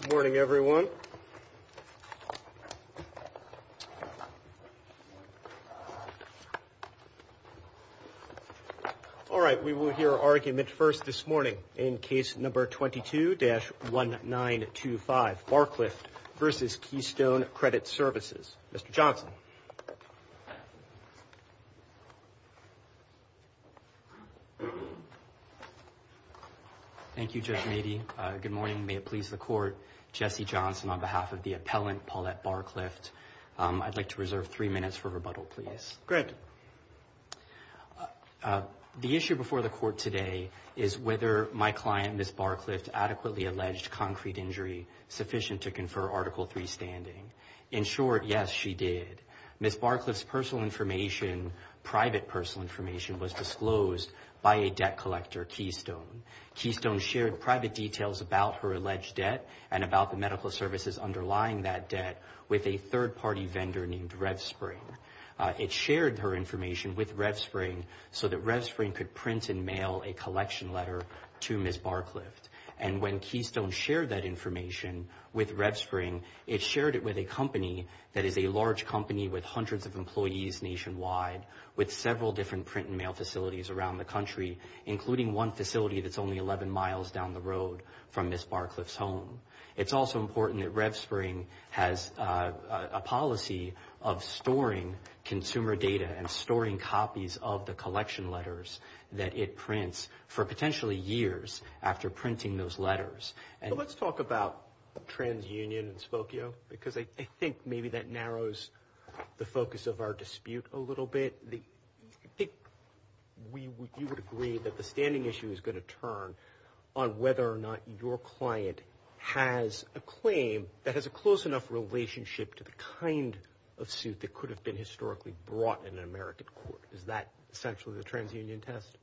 Good morning, everyone. All right, we will hear argument first this morning in case number 22-1925, Barclift v. Keystone Credit Services. Mr. Johnson. Thank you, Judge Meadey. Good morning. May it please the Court. Jesse Johnson on behalf of the appellant, Paulette Barclift. I'd like to reserve three minutes for rebuttal, please. Great. The issue before the Court today is whether my client, Ms. Barclift, adequately alleged concrete injury sufficient to confer Article III standing. In short, yes, she did. Ms. Barclift's personal information, private personal information, was disclosed by a debt collector, Keystone. Keystone shared private details about her alleged debt and about the medical services underlying that debt with a third-party vendor named RevSpring. It shared her information with RevSpring so that RevSpring could print and mail a collection letter to Ms. Barclift. And when Keystone shared that information with RevSpring, it shared it with a company that is a large company with hundreds of employees nationwide with several different print and mail facilities around the country, including one facility that's only 11 miles down the road from Ms. Barclift's home. It's also important that RevSpring has a policy of storing consumer data and storing copies of the collection letters that it prints for potentially years after printing those letters. Let's talk about TransUnion and Spokio, because I think maybe that narrows the focus of our dispute a little bit. I think you would agree that the standing issue is going to turn on whether or not your client has a claim that has a close enough relationship to the kind of suit that could have been historically brought in an American court. Is that essentially the TransUnion test?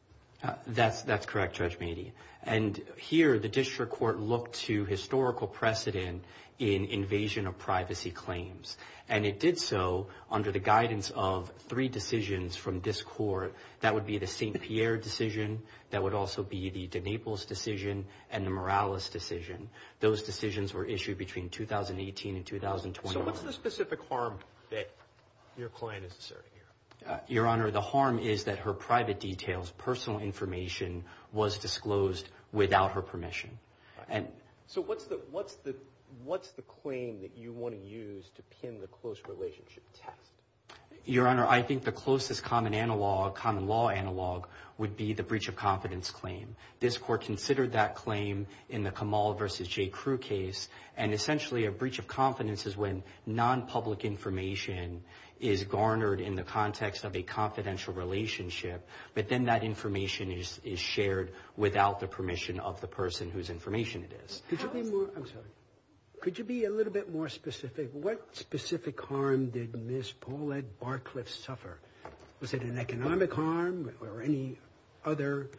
That's correct, Judge Meade. And here the district court looked to historical precedent in invasion of privacy claims. And it did so under the guidance of three decisions from this court. That would be the St. Pierre decision. That would also be the de Naples decision and the Morales decision. Those decisions were issued between 2018 and 2020. So what's the specific harm that your client is asserting here? Your Honor, the harm is that her private details, personal information, was disclosed without her permission. So what's the claim that you want to use to pin the close relationship test? Your Honor, I think the closest common analog, common law analog, would be the breach of confidence claim. This court considered that claim in the Kamal v. J. Crew case. And essentially a breach of confidence is when nonpublic information is garnered in the context of a confidential relationship. But then that information is shared without the permission of the person whose information it is. Could you be a little bit more specific? What specific harm did Ms. Paulette Barcliff suffer? Was it an economic harm or any other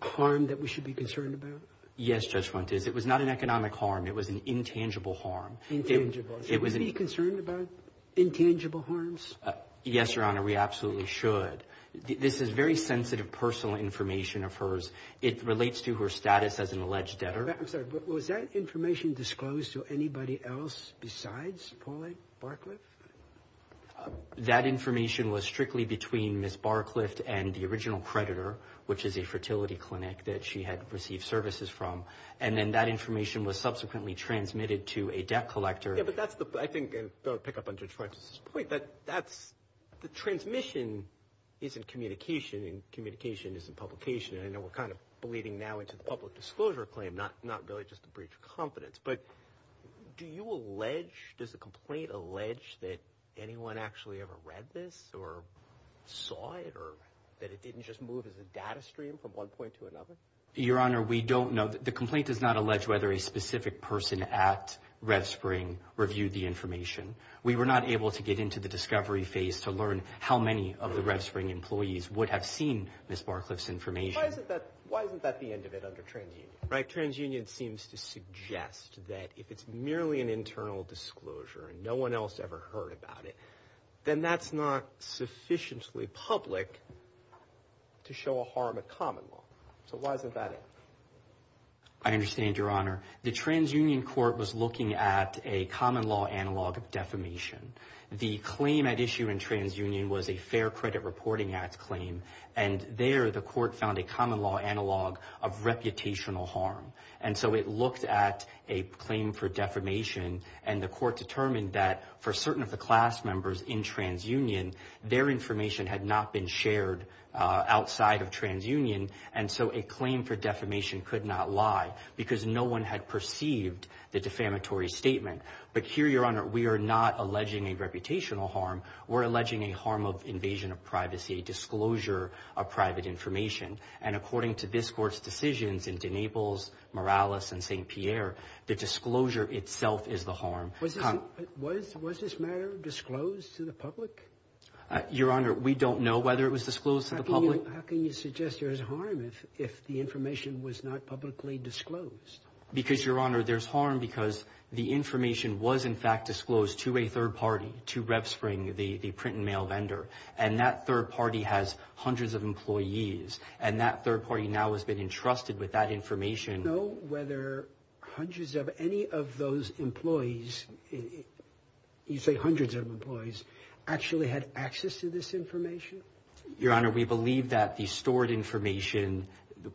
harm that we should be concerned about? Yes, Judge Fuentes. It was not an economic harm. It was an intangible harm. Intangible. Should we be concerned about intangible harms? Yes, Your Honor, we absolutely should. This is very sensitive personal information of hers. It relates to her status as an alleged debtor. I'm sorry. Was that information disclosed to anybody else besides Paulette Barcliff? That information was strictly between Ms. Barcliff and the original creditor, which is a fertility clinic that she had received services from. And then that information was subsequently transmitted to a debt collector. Yes, but that's the – I think, and I'll pick up on Judge Fuentes' point, that that's – the transmission is in communication and communication is in publication. And I know we're kind of bleeding now into the public disclosure claim, not really just a breach of confidence. But do you allege – does the complaint allege that anyone actually ever read this or saw it or that it didn't just move as a data stream from one point to another? Your Honor, we don't know. The complaint does not allege whether a specific person at RevSpring reviewed the information. We were not able to get into the discovery phase to learn how many of the RevSpring employees would have seen Ms. Barcliff's information. Why isn't that the end of it under TransUnion, right? TransUnion seems to suggest that if it's merely an internal disclosure and no one else ever heard about it, then that's not sufficiently public to show a harm of common law. So why isn't that it? I understand, Your Honor. The TransUnion court was looking at a common law analog of defamation. The claim at issue in TransUnion was a Fair Credit Reporting Act claim, and there the court found a common law analog of reputational harm. And so it looked at a claim for defamation, and the court determined that for certain of the class members in TransUnion, their information had not been shared outside of TransUnion, and so a claim for defamation could not lie because no one had perceived the defamatory statement. But here, Your Honor, we are not alleging a reputational harm. We're alleging a harm of invasion of privacy, a disclosure of private information. And according to this court's decisions in DeNables, Morales, and St. Pierre, the disclosure itself is the harm. Was this matter disclosed to the public? How can you suggest there's harm if the information was not publicly disclosed? Because, Your Honor, there's harm because the information was in fact disclosed to a third party, to RevSpring, the print and mail vendor, and that third party has hundreds of employees, and that third party now has been entrusted with that information. Do you know whether hundreds of any of those employees, you say hundreds of employees, actually had access to this information? Your Honor, we believe that the stored information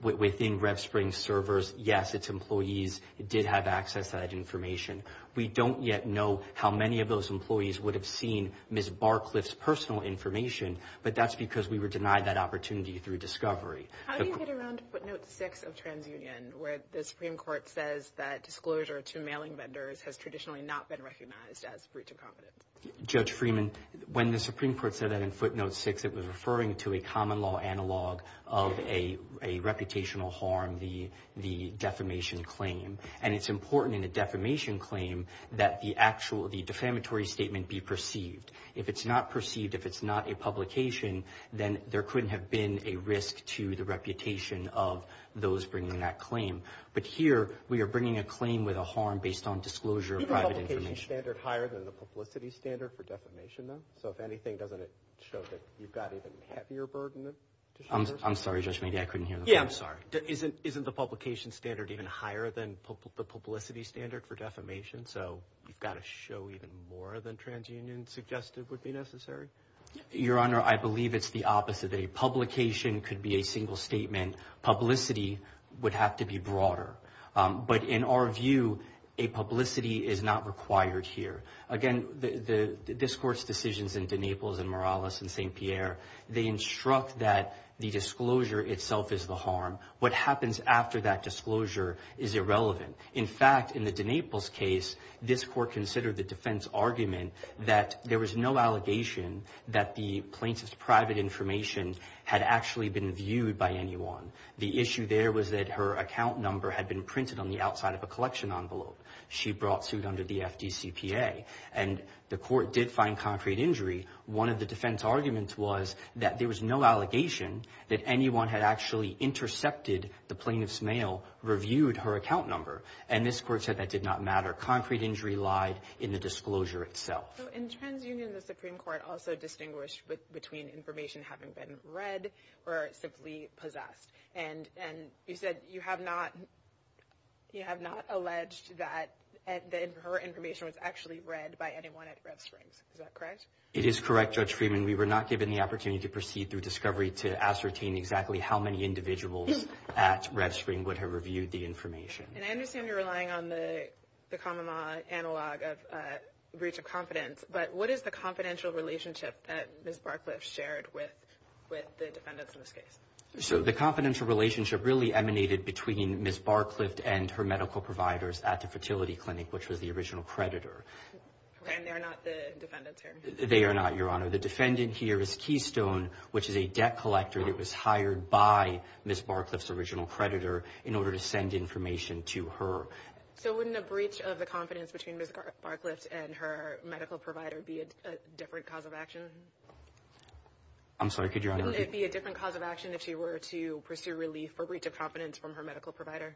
within RevSpring's servers, yes, its employees did have access to that information. We don't yet know how many of those employees would have seen Ms. Barcliff's personal information, but that's because we were denied that opportunity through discovery. How do you get around footnote 6 of TransUnion, where the Supreme Court says that disclosure to mailing vendors has traditionally not been recognized as breach of confidence? Judge Freeman, when the Supreme Court said that in footnote 6, it was referring to a common law analog of a reputational harm, the defamation claim. And it's important in a defamation claim that the defamatory statement be perceived. If it's not perceived, if it's not a publication, then there couldn't have been a risk to the reputation of those bringing that claim. But here we are bringing a claim with a harm based on disclosure of private information. Isn't the standard higher than the publicity standard for defamation, though? So if anything, doesn't it show that you've got an even heavier burden? I'm sorry, Judge, maybe I couldn't hear the question. Yeah, I'm sorry. Isn't the publication standard even higher than the publicity standard for defamation? So you've got to show even more than TransUnion suggested would be necessary? Your Honor, I believe it's the opposite. Publicity would have to be broader. But in our view, a publicity is not required here. Again, this Court's decisions in DeNaples and Morales and St. Pierre, they instruct that the disclosure itself is the harm. What happens after that disclosure is irrelevant. In fact, in the DeNaples case, this Court considered the defense argument that there was no allegation that the plaintiff's private information had actually been viewed by anyone. The issue there was that her account number had been printed on the outside of a collection envelope. She brought suit under the FDCPA. And the Court did find concrete injury. One of the defense arguments was that there was no allegation that anyone had actually intercepted the plaintiff's mail, reviewed her account number. And this Court said that did not matter. Concrete injury lied in the disclosure itself. So in TransUnion, the Supreme Court also distinguished between information having been read or simply possessed. And you said you have not alleged that her information was actually read by anyone at RevSprings. Is that correct? It is correct, Judge Freeman. We were not given the opportunity to proceed through discovery to ascertain exactly how many individuals at RevSprings would have reviewed the information. And I understand you're relying on the common law analog of breach of confidence. But what is the confidential relationship that Ms. Barcliff shared with the defendants in this case? So the confidential relationship really emanated between Ms. Barcliff and her medical providers at the fertility clinic, which was the original creditor. And they are not the defendants here? They are not, Your Honor. The defendant here is Keystone, which is a debt collector that was hired by Ms. Barcliff's original creditor in order to send information to her. So wouldn't a breach of the confidence between Ms. Barcliff and her medical provider be a different cause of action? I'm sorry, could Your Honor repeat? Wouldn't it be a different cause of action if she were to pursue relief or breach of confidence from her medical provider?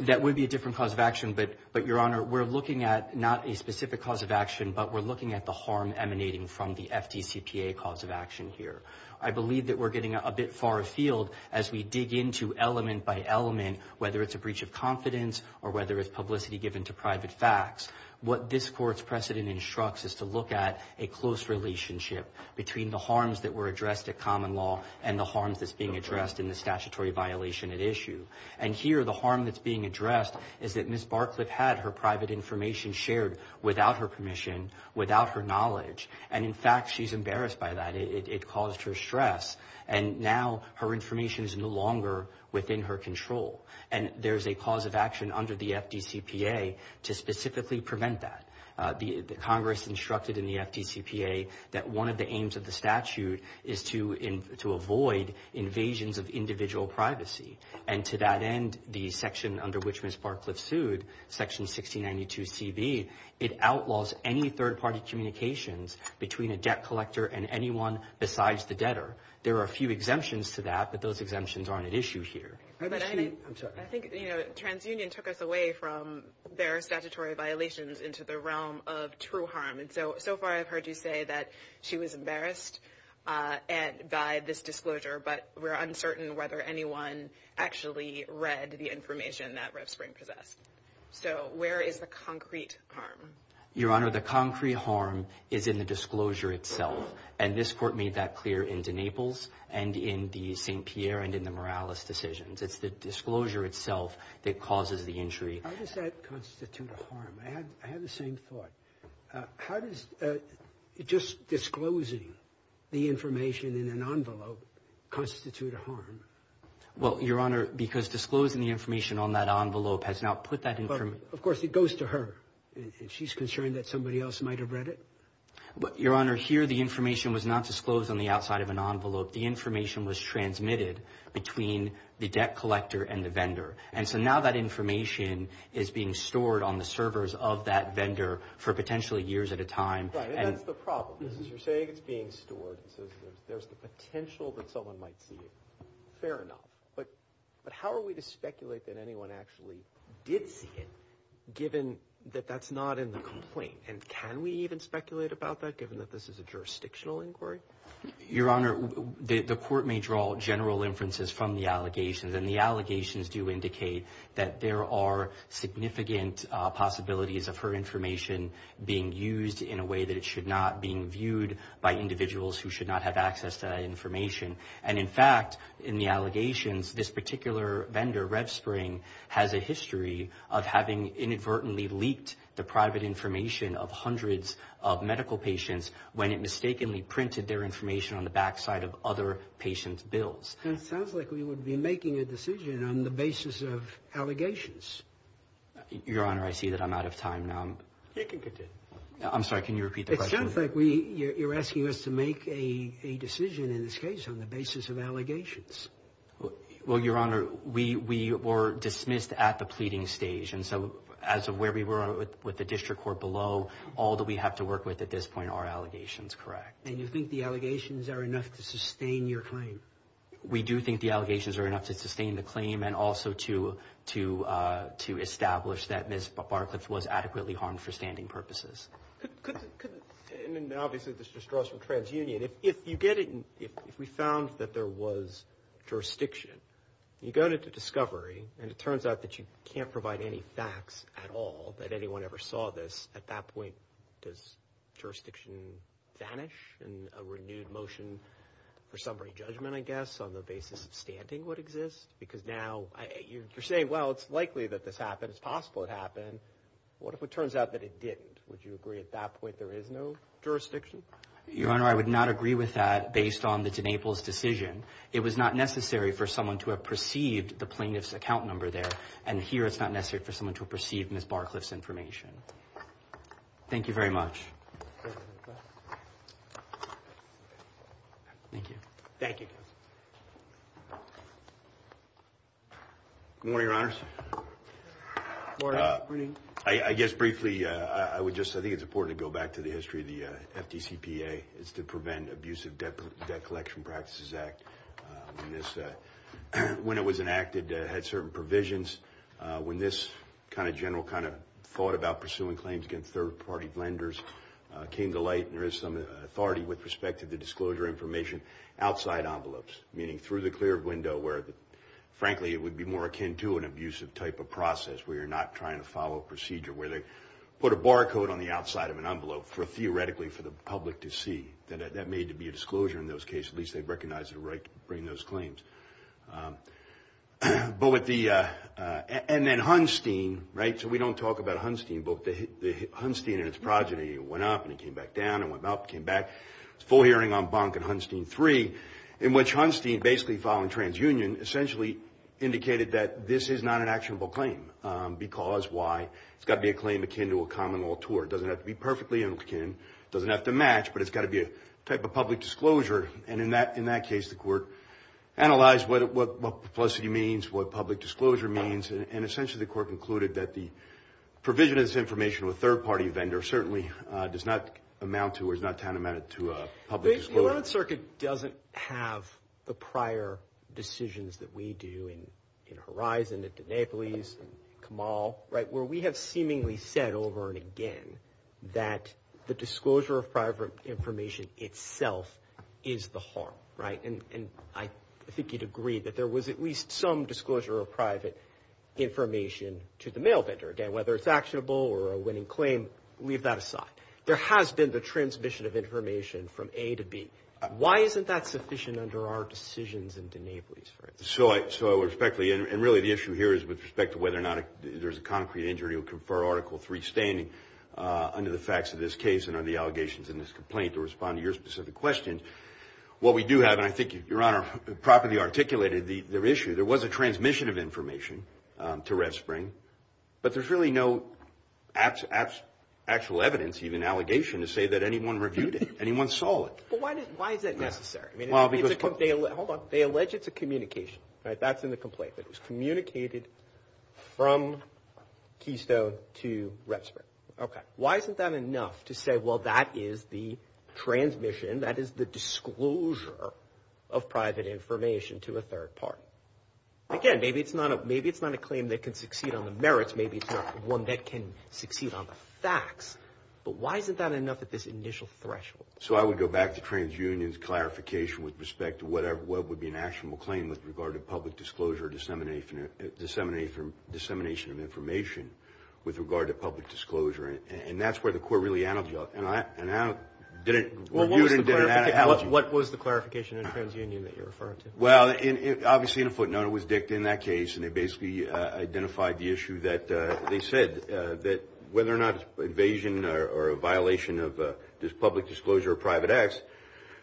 That would be a different cause of action. But, Your Honor, we're looking at not a specific cause of action, but we're looking at the harm emanating from the FDCPA cause of action here. I believe that we're getting a bit far afield as we dig into element by element, whether it's a breach of confidence or whether it's publicity given to private facts. What this Court's precedent instructs is to look at a close relationship between the harms that were addressed at common law and the harms that's being addressed in the statutory violation at issue. And here, the harm that's being addressed is that Ms. Barcliff had her private information shared without her permission, without her knowledge. And, in fact, she's embarrassed by that. It caused her stress. And now her information is no longer within her control. And there's a cause of action under the FDCPA to specifically prevent that. Congress instructed in the FDCPA that one of the aims of the statute is to avoid invasions of individual privacy. And to that end, the section under which Ms. Barcliff sued, Section 1692CB, it outlaws any third-party communications between a debt collector and anyone besides the debtor. There are a few exemptions to that, but those exemptions aren't at issue here. I think TransUnion took us away from their statutory violations into the realm of true harm. And so far I've heard you say that she was embarrassed by this disclosure, but we're uncertain whether anyone actually read the information that Rev. Spring possessed. So where is the concrete harm? Your Honor, the concrete harm is in the disclosure itself. And this Court made that clear in DeNaples and in the St. Pierre and in the Morales decisions. It's the disclosure itself that causes the injury. How does that constitute a harm? I have the same thought. Well, Your Honor, because disclosing the information on that envelope has now put that information Well, of course, it goes to her. She's concerned that somebody else might have read it. Your Honor, here the information was not disclosed on the outside of an envelope. The information was transmitted between the debt collector and the vendor. And so now that information is being stored on the servers of that vendor for potentially years at a time. Right, and that's the problem. You're saying it's being stored, so there's the potential that someone might see it. Fair enough. But how are we to speculate that anyone actually did see it, given that that's not in the complaint? And can we even speculate about that, given that this is a jurisdictional inquiry? Your Honor, the Court may draw general inferences from the allegations, and the allegations do indicate that there are significant possibilities of her information being used in a way that it should not be viewed by individuals who should not have access to that information. And, in fact, in the allegations, this particular vendor, RevSpring, has a history of having inadvertently leaked the private information of hundreds of medical patients when it mistakenly printed their information on the backside of other patients' bills. It sounds like we would be making a decision on the basis of allegations. Your Honor, I see that I'm out of time now. You can continue. I'm sorry, can you repeat the question? It sounds like you're asking us to make a decision in this case on the basis of allegations. Well, Your Honor, we were dismissed at the pleading stage, and so as of where we were with the district court below, all that we have to work with at this point are allegations, correct. And you think the allegations are enough to sustain your claim? We do think the allegations are enough to sustain the claim and also to establish that Ms. Barcliffe was adequately harmed for standing purposes. And, obviously, this just draws from transunion. If we found that there was jurisdiction, you go to discovery, and it turns out that you can't provide any facts at all, that anyone ever saw this, at that point does jurisdiction vanish in a renewed motion for summary judgment, I guess, on the basis of standing would exist? Because now you're saying, well, it's likely that this happened. It's possible it happened. What if it turns out that it didn't? Would you agree at that point there is no jurisdiction? Your Honor, I would not agree with that based on the de Naples decision. It was not necessary for someone to have perceived the plaintiff's account number there, and here it's not necessary for someone to have perceived Ms. Barcliffe's information. Thank you very much. Thank you. Thank you. Good morning, Your Honors. Good morning. I guess briefly, I think it's important to go back to the history of the FDCPA. It's the Prevent Abusive Debt Collection Practices Act. When it was enacted, it had certain provisions. When this kind of general kind of thought about pursuing claims against third-party lenders, it came to light there is some authority with respect to the disclosure information outside envelopes, meaning through the clear window where, frankly, it would be more akin to an abusive type of process where you're not trying to follow a procedure, where they put a barcode on the outside of an envelope for, theoretically, for the public to see. That may be a disclosure in those cases. At least they recognize the right to bring those claims. And then Hunstein, right, so we don't talk about Hunstein, but Hunstein and its progeny went up and it came back down and went up and came back. There's a full hearing on Bunk and Hunstein III, in which Hunstein, basically following TransUnion, essentially indicated that this is not an actionable claim because why? It's got to be a claim akin to a common law tour. It doesn't have to be perfectly akin. It doesn't have to match, but it's got to be a type of public disclosure. And in that case, the court analyzed what publicity means, what public disclosure means, and essentially the court concluded that the provision of this information to a third-party vendor certainly does not amount to or is not tantamount to a public disclosure. The United Circuit doesn't have the prior decisions that we do in Horizon, in Denapolis, in Kamal, right, where we have seemingly said over and again that the disclosure of private information itself is the harm, right? And I think you'd agree that there was at least some disclosure of private information to the mail vendor. Again, whether it's actionable or a winning claim, leave that aside. There has been the transmission of information from A to B. Why isn't that sufficient under our decisions in Denapolis, for instance? So respectfully, and really the issue here is with respect to whether or not there's a concrete injury for Article III standing under the facts of this case and under the allegations in this complaint to respond to your specific question. What we do have, and I think Your Honor properly articulated the issue, there was a transmission of information to Red Spring, but there's really no actual evidence, even allegation, to say that anyone reviewed it, anyone saw it. But why is that necessary? Hold on. They allege it's a communication, right? That's in the complaint. It was communicated from Keystone to Red Spring. Okay. Why isn't that enough to say, well, that is the transmission, that is the disclosure of private information to a third party? Again, maybe it's not a claim that can succeed on the merits. Maybe it's not one that can succeed on the facts. But why isn't that enough at this initial threshold? So I would go back to TransUnion's clarification with respect to what would be an actionable claim with regard to public disclosure or dissemination of information with regard to public disclosure. And that's where the court really analogized. And I didn't review it and did an analogy. Well, what was the clarification in TransUnion that you're referring to? Well, obviously in a footnote it was dicked in that case, and they basically identified the issue that they said, whether or not it's an invasion or a violation of public disclosure or private acts,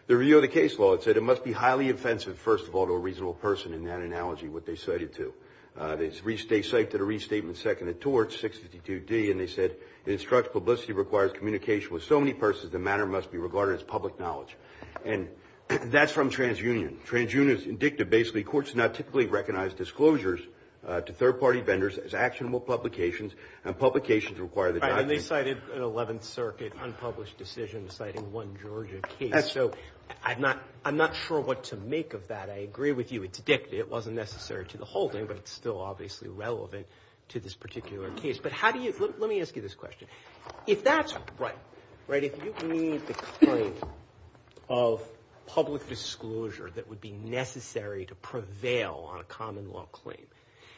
the review of the case law, it said, it must be highly offensive, first of all, to a reasonable person in that analogy, what they cited to. They cited a restatement seconded towards 652D, and they said, it instructs publicity, requires communication with so many persons, the matter must be regarded as public knowledge. And that's from TransUnion. TransUnion is indicted basically, courts do not typically recognize disclosures to third party vendors as actionable publications, and publications require that. And they cited an 11th Circuit unpublished decision citing one Georgia case. So I'm not sure what to make of that. I agree with you. It's dicked. It wasn't necessary to the holding, but it's still obviously relevant to this particular case. But how do you, let me ask you this question. If that's right, right, if you need the claim of public disclosure that would be necessary to prevail on a common law claim,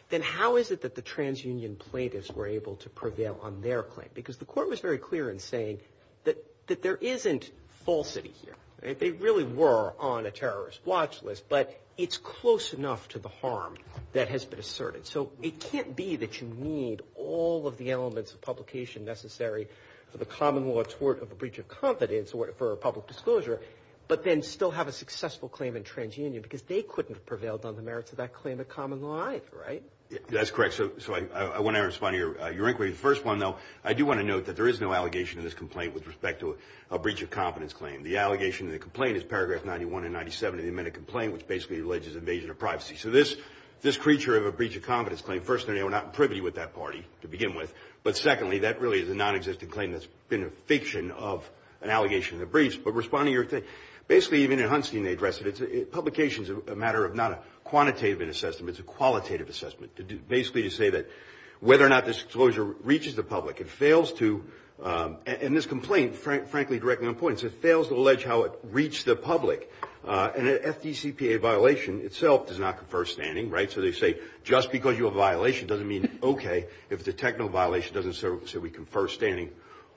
then how is it that the TransUnion plaintiffs were able to prevail on their claim? Because the court was very clear in saying that there isn't falsity here. They really were on a terrorist watch list, but it's close enough to the harm that has been asserted. So it can't be that you need all of the elements of publication necessary for the common law tort of a breach of confidence for public disclosure, but then still have a successful claim in TransUnion, because they couldn't have prevailed on the merits of that claim of common law either, right? That's correct. So I want to respond to your inquiry. The first one, though, I do want to note that there is no allegation in this complaint with respect to a breach of confidence claim. The allegation in the complaint is paragraph 91 and 97 of the amended complaint, which basically alleges invasion of privacy. So this creature of a breach of confidence claim, first, they were not privy with that party to begin with, but secondly, that really is a nonexistent claim that's been a fiction of an allegation of a breach. But responding to your question, basically even in Hunstein they address it. Publication is a matter of not a quantitative assessment, but it's a qualitative assessment, basically to say that whether or not disclosure reaches the public. It fails to, and this complaint, frankly, directly on point, it fails to allege how it reached the public. An FDCPA violation itself does not confer standing, right? So they say just because you have a violation doesn't mean, okay, if it's a technical violation it doesn't say we confer standing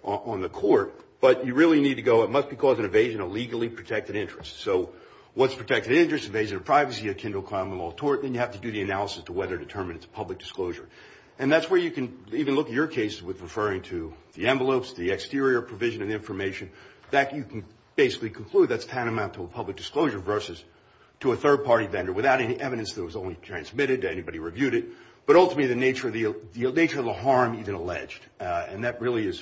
on the court. But you really need to go, it must be causing evasion of legally protected interests. So what's protected interests? Evasion of privacy akin to a common law tort, and you have to do the analysis to whether it determines it's a public disclosure. And that's where you can even look at your case with referring to the envelopes, the exterior provision of the information, that you can basically conclude that's tantamount to a public disclosure versus to a third-party vendor without any evidence that was only transmitted, anybody reviewed it, but ultimately the nature of the harm even alleged. And that really is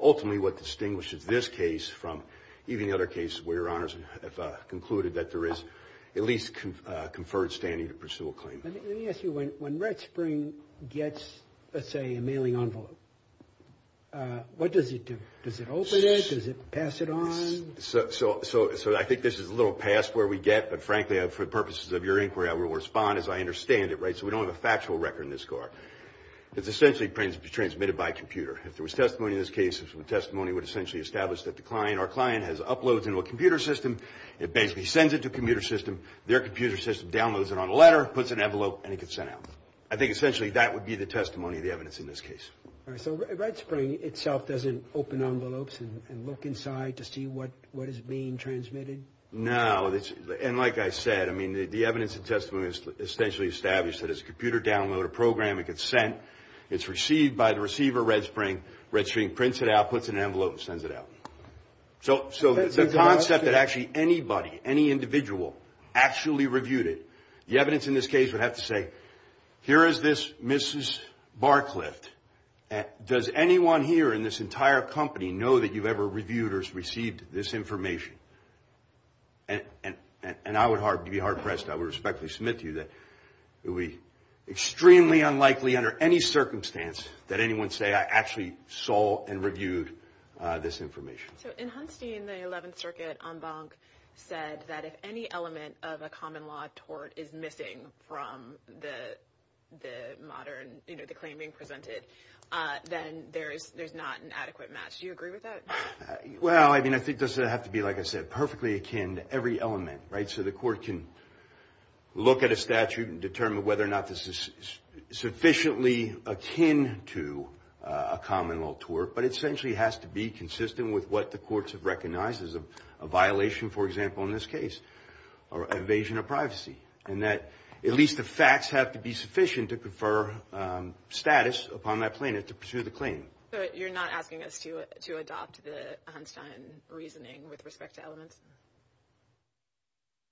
ultimately what distinguishes this case from even the other cases where your honors have concluded that there is at least conferred standing to pursue a claim. Let me ask you, when Red Spring gets, let's say, a mailing envelope, what does it do? Does it open it? Does it pass it on? So I think this is a little past where we get, but frankly, for the purposes of your inquiry I will respond as I understand it, right? So we don't have a factual record in this court. It's essentially transmitted by computer. If there was testimony in this case, the testimony would essentially establish that the client, our client, has uploaded it to a computer system, it basically sends it to a computer system, their computer system downloads it on a letter, puts it in an envelope, and it gets sent out. I think essentially that would be the testimony of the evidence in this case. All right, so Red Spring itself doesn't open envelopes and look inside to see what is being transmitted? No. And like I said, I mean, the evidence and testimony is essentially established that it's a computer download, a program, it gets sent, it's received by the receiver, Red Spring, Red Spring prints it out, puts it in an envelope, and sends it out. So the concept that actually anybody, any individual, actually reviewed it, the evidence in this case would have to say, here is this Mrs. Barclift. Does anyone here in this entire company know that you've ever reviewed or received this information? And I would be hard-pressed, I would respectfully submit to you that it would be extremely unlikely under any circumstance that anyone say, I actually saw and reviewed this information. So in Hunstein, the 11th Circuit en banc said that if any element of a common law tort is missing from the modern, you know, the claim being presented, then there's not an adequate match. Do you agree with that? Well, I mean, I think it doesn't have to be, like I said, perfectly akin to every element, right? So the court can look at a statute and determine whether or not this is sufficiently akin to a common law tort, but it essentially has to be consistent with what the courts have recognized as a violation, for example, in this case, or evasion of privacy. And that at least the facts have to be sufficient to confer status upon that plaintiff to pursue the claim. So you're not asking us to adopt the Hunstein reasoning with respect to elements?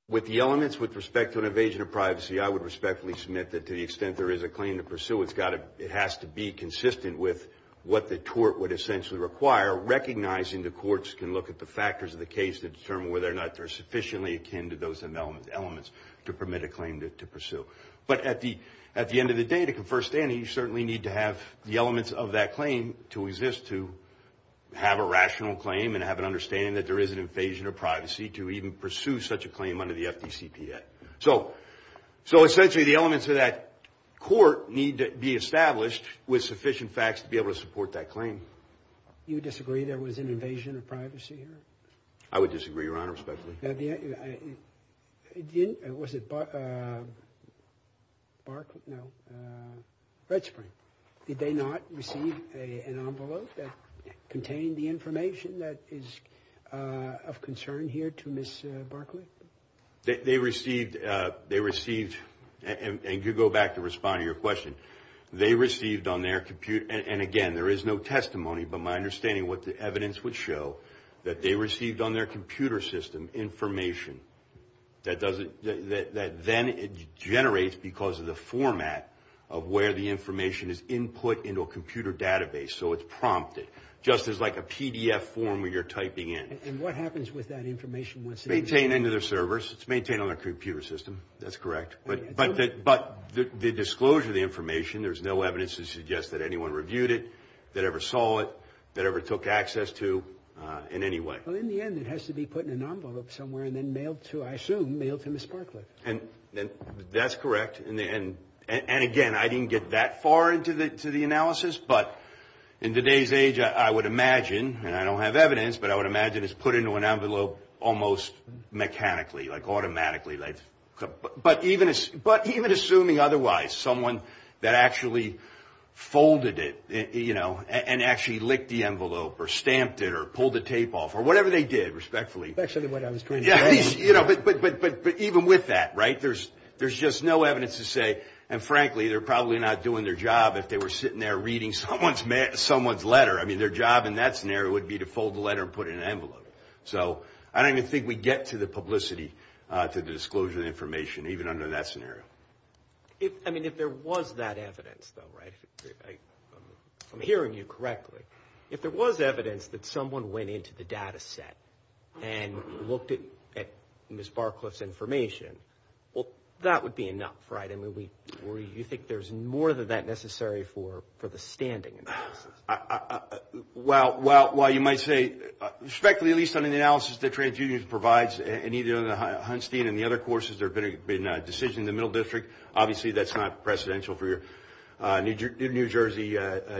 With the elements with respect to an evasion of privacy, I would respectfully submit that to the extent there is a claim to pursue, it has to be consistent with what the tort would essentially require, recognizing the courts can look at the factors of the case to determine whether or not they're sufficiently akin to those elements to permit a claim to pursue. But at the end of the day, to confer status, you certainly need to have the elements of that claim to exist, to have a rational claim and have an understanding that there is an evasion of privacy to even pursue such a claim under the FDCPA. So essentially the elements of that court need to be established with sufficient facts to be able to support that claim. You disagree there was an evasion of privacy here? I would disagree, Your Honor, respectfully. Was it Barclay? No, Red Spring. Did they not receive an envelope that contained the information that is of concern here to Ms. Barclay? They received, and you go back to responding to your question, they received on their computer, and again, there is no testimony, but my understanding of what the evidence would show, that they received on their computer system information that then it generates because of the format of where the information is input into a computer database, so it's prompted, just as like a PDF form where you're typing in. And what happens with that information once it's in there? Maintained into their servers. It's maintained on their computer system. That's correct. But the disclosure of the information, there's no evidence to suggest that anyone reviewed it, that ever saw it, that ever took access to in any way. Well, in the end, it has to be put in an envelope somewhere and then mailed to, I assume, mailed to Ms. Barclay. That's correct, and again, I didn't get that far into the analysis, but in today's age, I would imagine, and I don't have evidence, but I would imagine it's put into an envelope almost mechanically, like automatically. But even assuming otherwise, someone that actually folded it, you know, and actually licked the envelope or stamped it or pulled the tape off or whatever they did, respectfully. Actually, what I was going to say. Yeah, but even with that, right, there's just no evidence to say, and frankly, they're probably not doing their job if they were sitting there reading someone's letter. I mean, their job in that scenario would be to fold the letter and put it in an envelope. So I don't even think we get to the publicity, to the disclosure of the information, even under that scenario. I mean, if there was that evidence, though, right, if I'm hearing you correctly, if there was evidence that someone went into the data set and looked at Ms. Barclay's information, well, that would be enough, right? I mean, you think there's more than that necessary for the standing analysis? Well, you might say, respectfully, at least under the analysis that TransUnions provides, and either the Hunstein and the other courses, there have been decisions in the Middle District. Obviously, that's not precedential for your New Jersey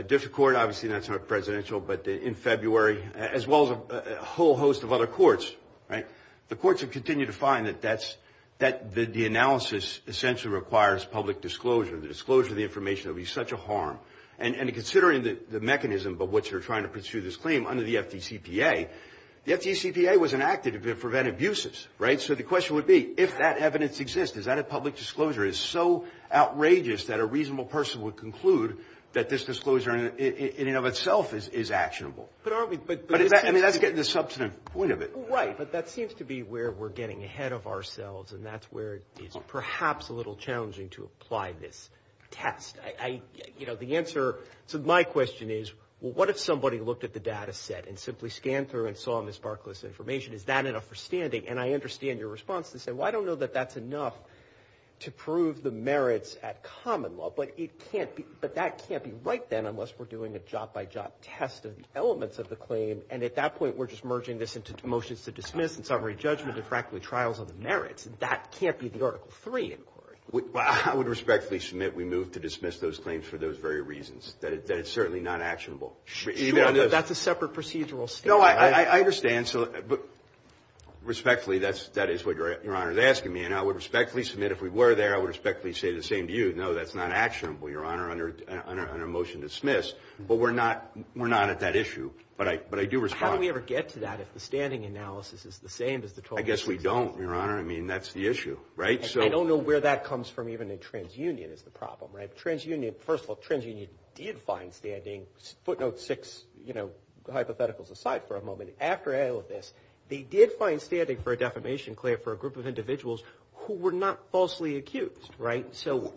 District Court. Obviously, that's not precedential. But in February, as well as a whole host of other courts, right, the courts have continued to find that the analysis essentially requires public disclosure. The disclosure of the information would be such a harm. And considering the mechanism by which they're trying to pursue this claim under the FDCPA, the FDCPA was enacted to prevent abuses, right? So the question would be, if that evidence exists, is that a public disclosure? It's so outrageous that a reasonable person would conclude that this disclosure in and of itself is actionable. But aren't we – I mean, that's getting to the substantive point of it. Right, but that seems to be where we're getting ahead of ourselves, and that's where it's perhaps a little challenging to apply this test. I – you know, the answer to my question is, well, what if somebody looked at the data set and simply scanned through and saw this sparkless information? Is that enough for standing? And I understand your response to say, well, I don't know that that's enough to prove the merits at common law. But it can't be – but that can't be right then unless we're doing a job-by-job test of the elements of the claim. And at that point, we're just merging this into motions to dismiss and summary judgment and, frankly, trials of the merits. That can't be the Article III inquiry. Well, I would respectfully submit we move to dismiss those claims for those very reasons, that it's certainly not actionable. Sure, but that's a separate procedural statement. No, I understand. But respectfully, that is what Your Honor is asking me. And I would respectfully submit if we were there, I would respectfully say the same to you. No, that's not actionable, Your Honor, under a motion to dismiss. But we're not at that issue. But I do respond. How do we ever get to that if the standing analysis is the same as the – I guess we don't, Your Honor. I mean, that's the issue, right? I don't know where that comes from even in TransUnion is the problem, right? TransUnion – first of all, TransUnion did find standing – footnote six, you know, hypotheticals aside for a moment. After all of this, they did find standing for a defamation claim for a group of individuals who were not falsely accused, right? So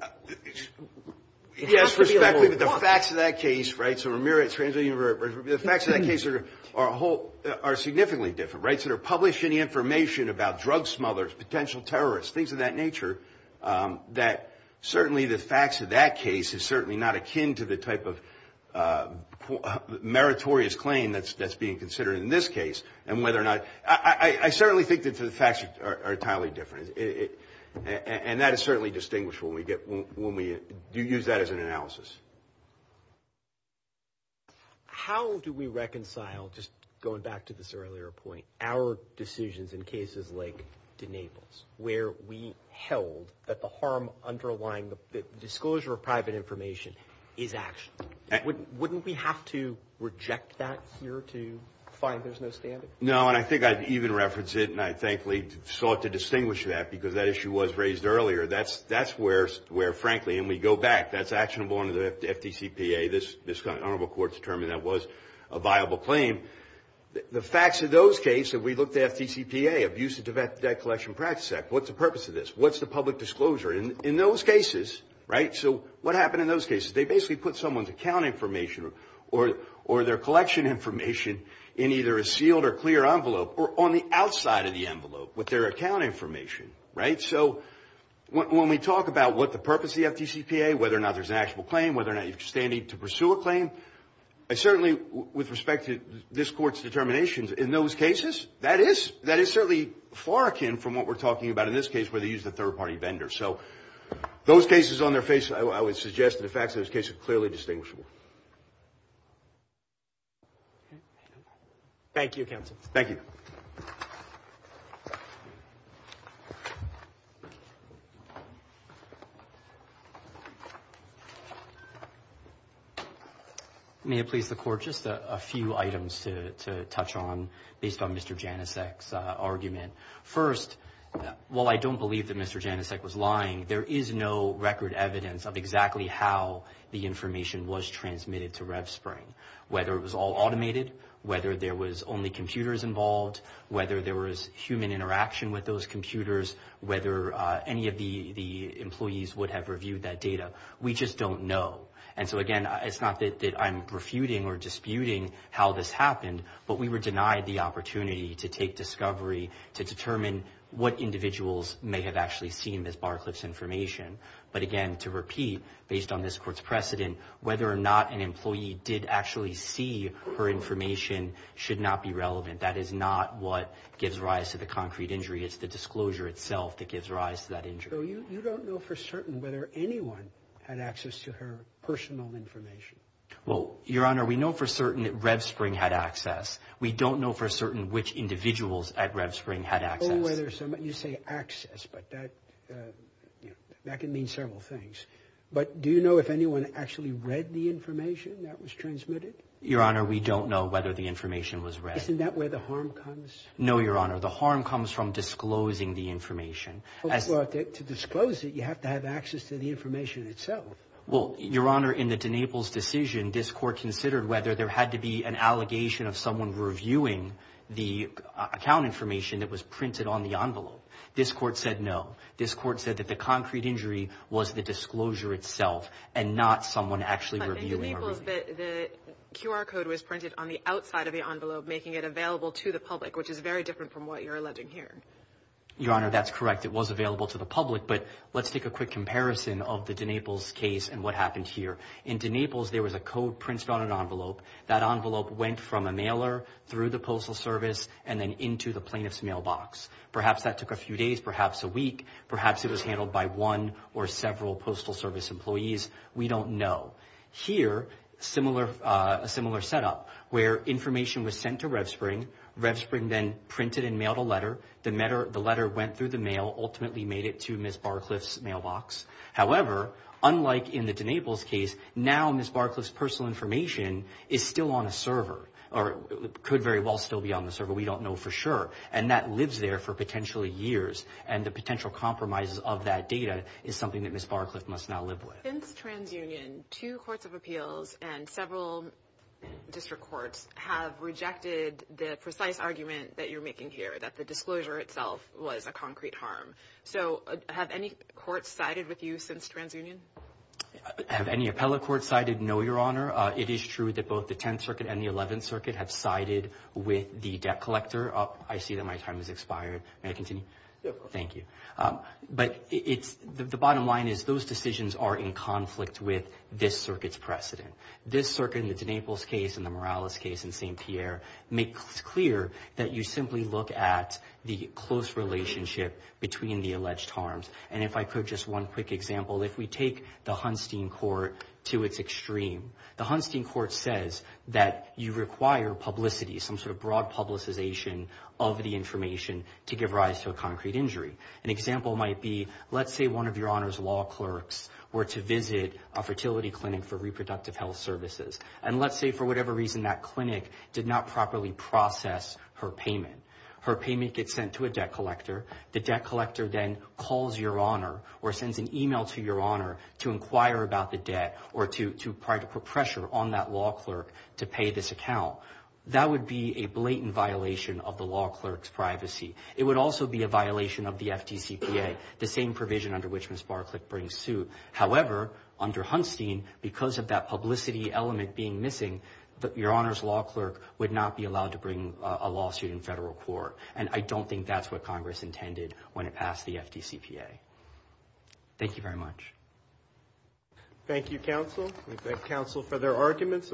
it has to be level one. Yes, respectfully, but the facts of that case, right, so Ramirez, TransUnion, the facts of that case are a whole – are significantly different, right? They don't consider publishing information about drug smugglers, potential terrorists, things of that nature, that certainly the facts of that case is certainly not akin to the type of meritorious claim that's being considered in this case. And whether or not – I certainly think that the facts are entirely different. And that is certainly distinguished when we get – when we use that as an analysis. How do we reconcile, just going back to this earlier point, our decisions in cases like de Naples, where we held that the harm underlying the disclosure of private information is action? Wouldn't we have to reject that here to find there's no standing? No, and I think I'd even reference it, and I'd thankfully sought to distinguish that because that issue was raised earlier. That's where, frankly, and we go back, that's actionable under the FDCPA. This Honorable Court determined that was a viable claim. The facts of those cases, if we look at the FDCPA, Abuse of Debt Collection Practice Act, what's the purpose of this? What's the public disclosure in those cases, right? So what happened in those cases? They basically put someone's account information or their collection information in either a sealed or clear envelope or on the outside of the envelope with their account information, right? So when we talk about what the purpose of the FDCPA, whether or not there's an actionable claim, whether or not you're standing to pursue a claim, I certainly, with respect to this Court's determinations, in those cases, that is certainly far akin from what we're talking about in this case where they used a third-party vendor. So those cases on their face, I would suggest that the facts of those cases are clearly distinguishable. Thank you, Counsel. Thank you. May it please the Court, just a few items to touch on based on Mr. Janicek's argument. First, while I don't believe that Mr. Janicek was lying, there is no record evidence of exactly how the information was transmitted to RevSpring, whether it was all automated, whether there was only computers involved, whether there was human interaction with those computers, whether any of the employees would have reviewed that data. We just don't know. And so, again, it's not that I'm refuting or disputing how this happened, but we were denied the opportunity to take discovery, to determine what individuals may have actually seen Ms. Barcliff's information. But, again, to repeat, based on this Court's precedent, whether or not an employee did actually see her information should not be relevant. That is not what gives rise to the concrete injury. It's the disclosure itself that gives rise to that injury. So you don't know for certain whether anyone had access to her personal information? Well, Your Honor, we know for certain that RevSpring had access. We don't know for certain which individuals at RevSpring had access. You say access, but that can mean several things. But do you know if anyone actually read the information that was transmitted? Your Honor, we don't know whether the information was read. Isn't that where the harm comes? No, Your Honor. The harm comes from disclosing the information. To disclose it, you have to have access to the information itself. Well, Your Honor, in the DeNaples decision, this Court considered whether there had to be an allegation of someone reviewing the account information that was printed on the envelope. This Court said no. This Court said that the concrete injury was the disclosure itself and not someone actually reviewing her. But in DeNaples, the QR code was printed on the outside of the envelope, making it available to the public, which is very different from what you're alleging here. Your Honor, that's correct. It was available to the public. But let's take a quick comparison of the DeNaples case and what happened here. In DeNaples, there was a code printed on an envelope. That envelope went from a mailer through the Postal Service and then into the plaintiff's mailbox. Perhaps that took a few days, perhaps a week. Perhaps it was handled by one or several Postal Service employees. We don't know. Here, a similar setup where information was sent to RevSpring. RevSpring then printed and mailed a letter. The letter went through the mail, ultimately made it to Ms. Barcliffe's mailbox. However, unlike in the DeNaples case, now Ms. Barcliffe's personal information is still on a server or could very well still be on the server. We don't know for sure. And that lives there for potentially years, and the potential compromises of that data is something that Ms. Barcliffe must now live with. Since TransUnion, two courts of appeals and several district courts have rejected the precise argument that you're making here, that the disclosure itself was a concrete harm. So have any courts sided with you since TransUnion? Have any appellate courts sided? No, Your Honor. It is true that both the Tenth Circuit and the Eleventh Circuit have sided with the debt collector. I see that my time has expired. May I continue? Go for it. Thank you. But the bottom line is those decisions are in conflict with this circuit's precedent. This circuit in the DeNaples case and the Morales case in St. Pierre make clear that you simply look at the close relationship between the alleged harms. And if I could, just one quick example. If we take the Hunstein Court to its extreme, the Hunstein Court says that you require publicity, some sort of broad publicization of the information to give rise to a concrete injury. An example might be, let's say one of Your Honor's law clerks were to visit a fertility clinic for reproductive health services. And let's say for whatever reason that clinic did not properly process her payment. Her payment gets sent to a debt collector. The debt collector then calls Your Honor or sends an email to Your Honor to inquire about the debt or to put pressure on that law clerk to pay this account. That would be a blatant violation of the law clerk's privacy. It would also be a violation of the FDCPA, the same provision under which Ms. Barclay brings suit. However, under Hunstein, because of that publicity element being missing, Your Honor's law clerk would not be allowed to bring a lawsuit in federal court. And I don't think that's what Congress intended when it passed the FDCPA. Thank you very much. Thank you, counsel. We thank counsel for their arguments.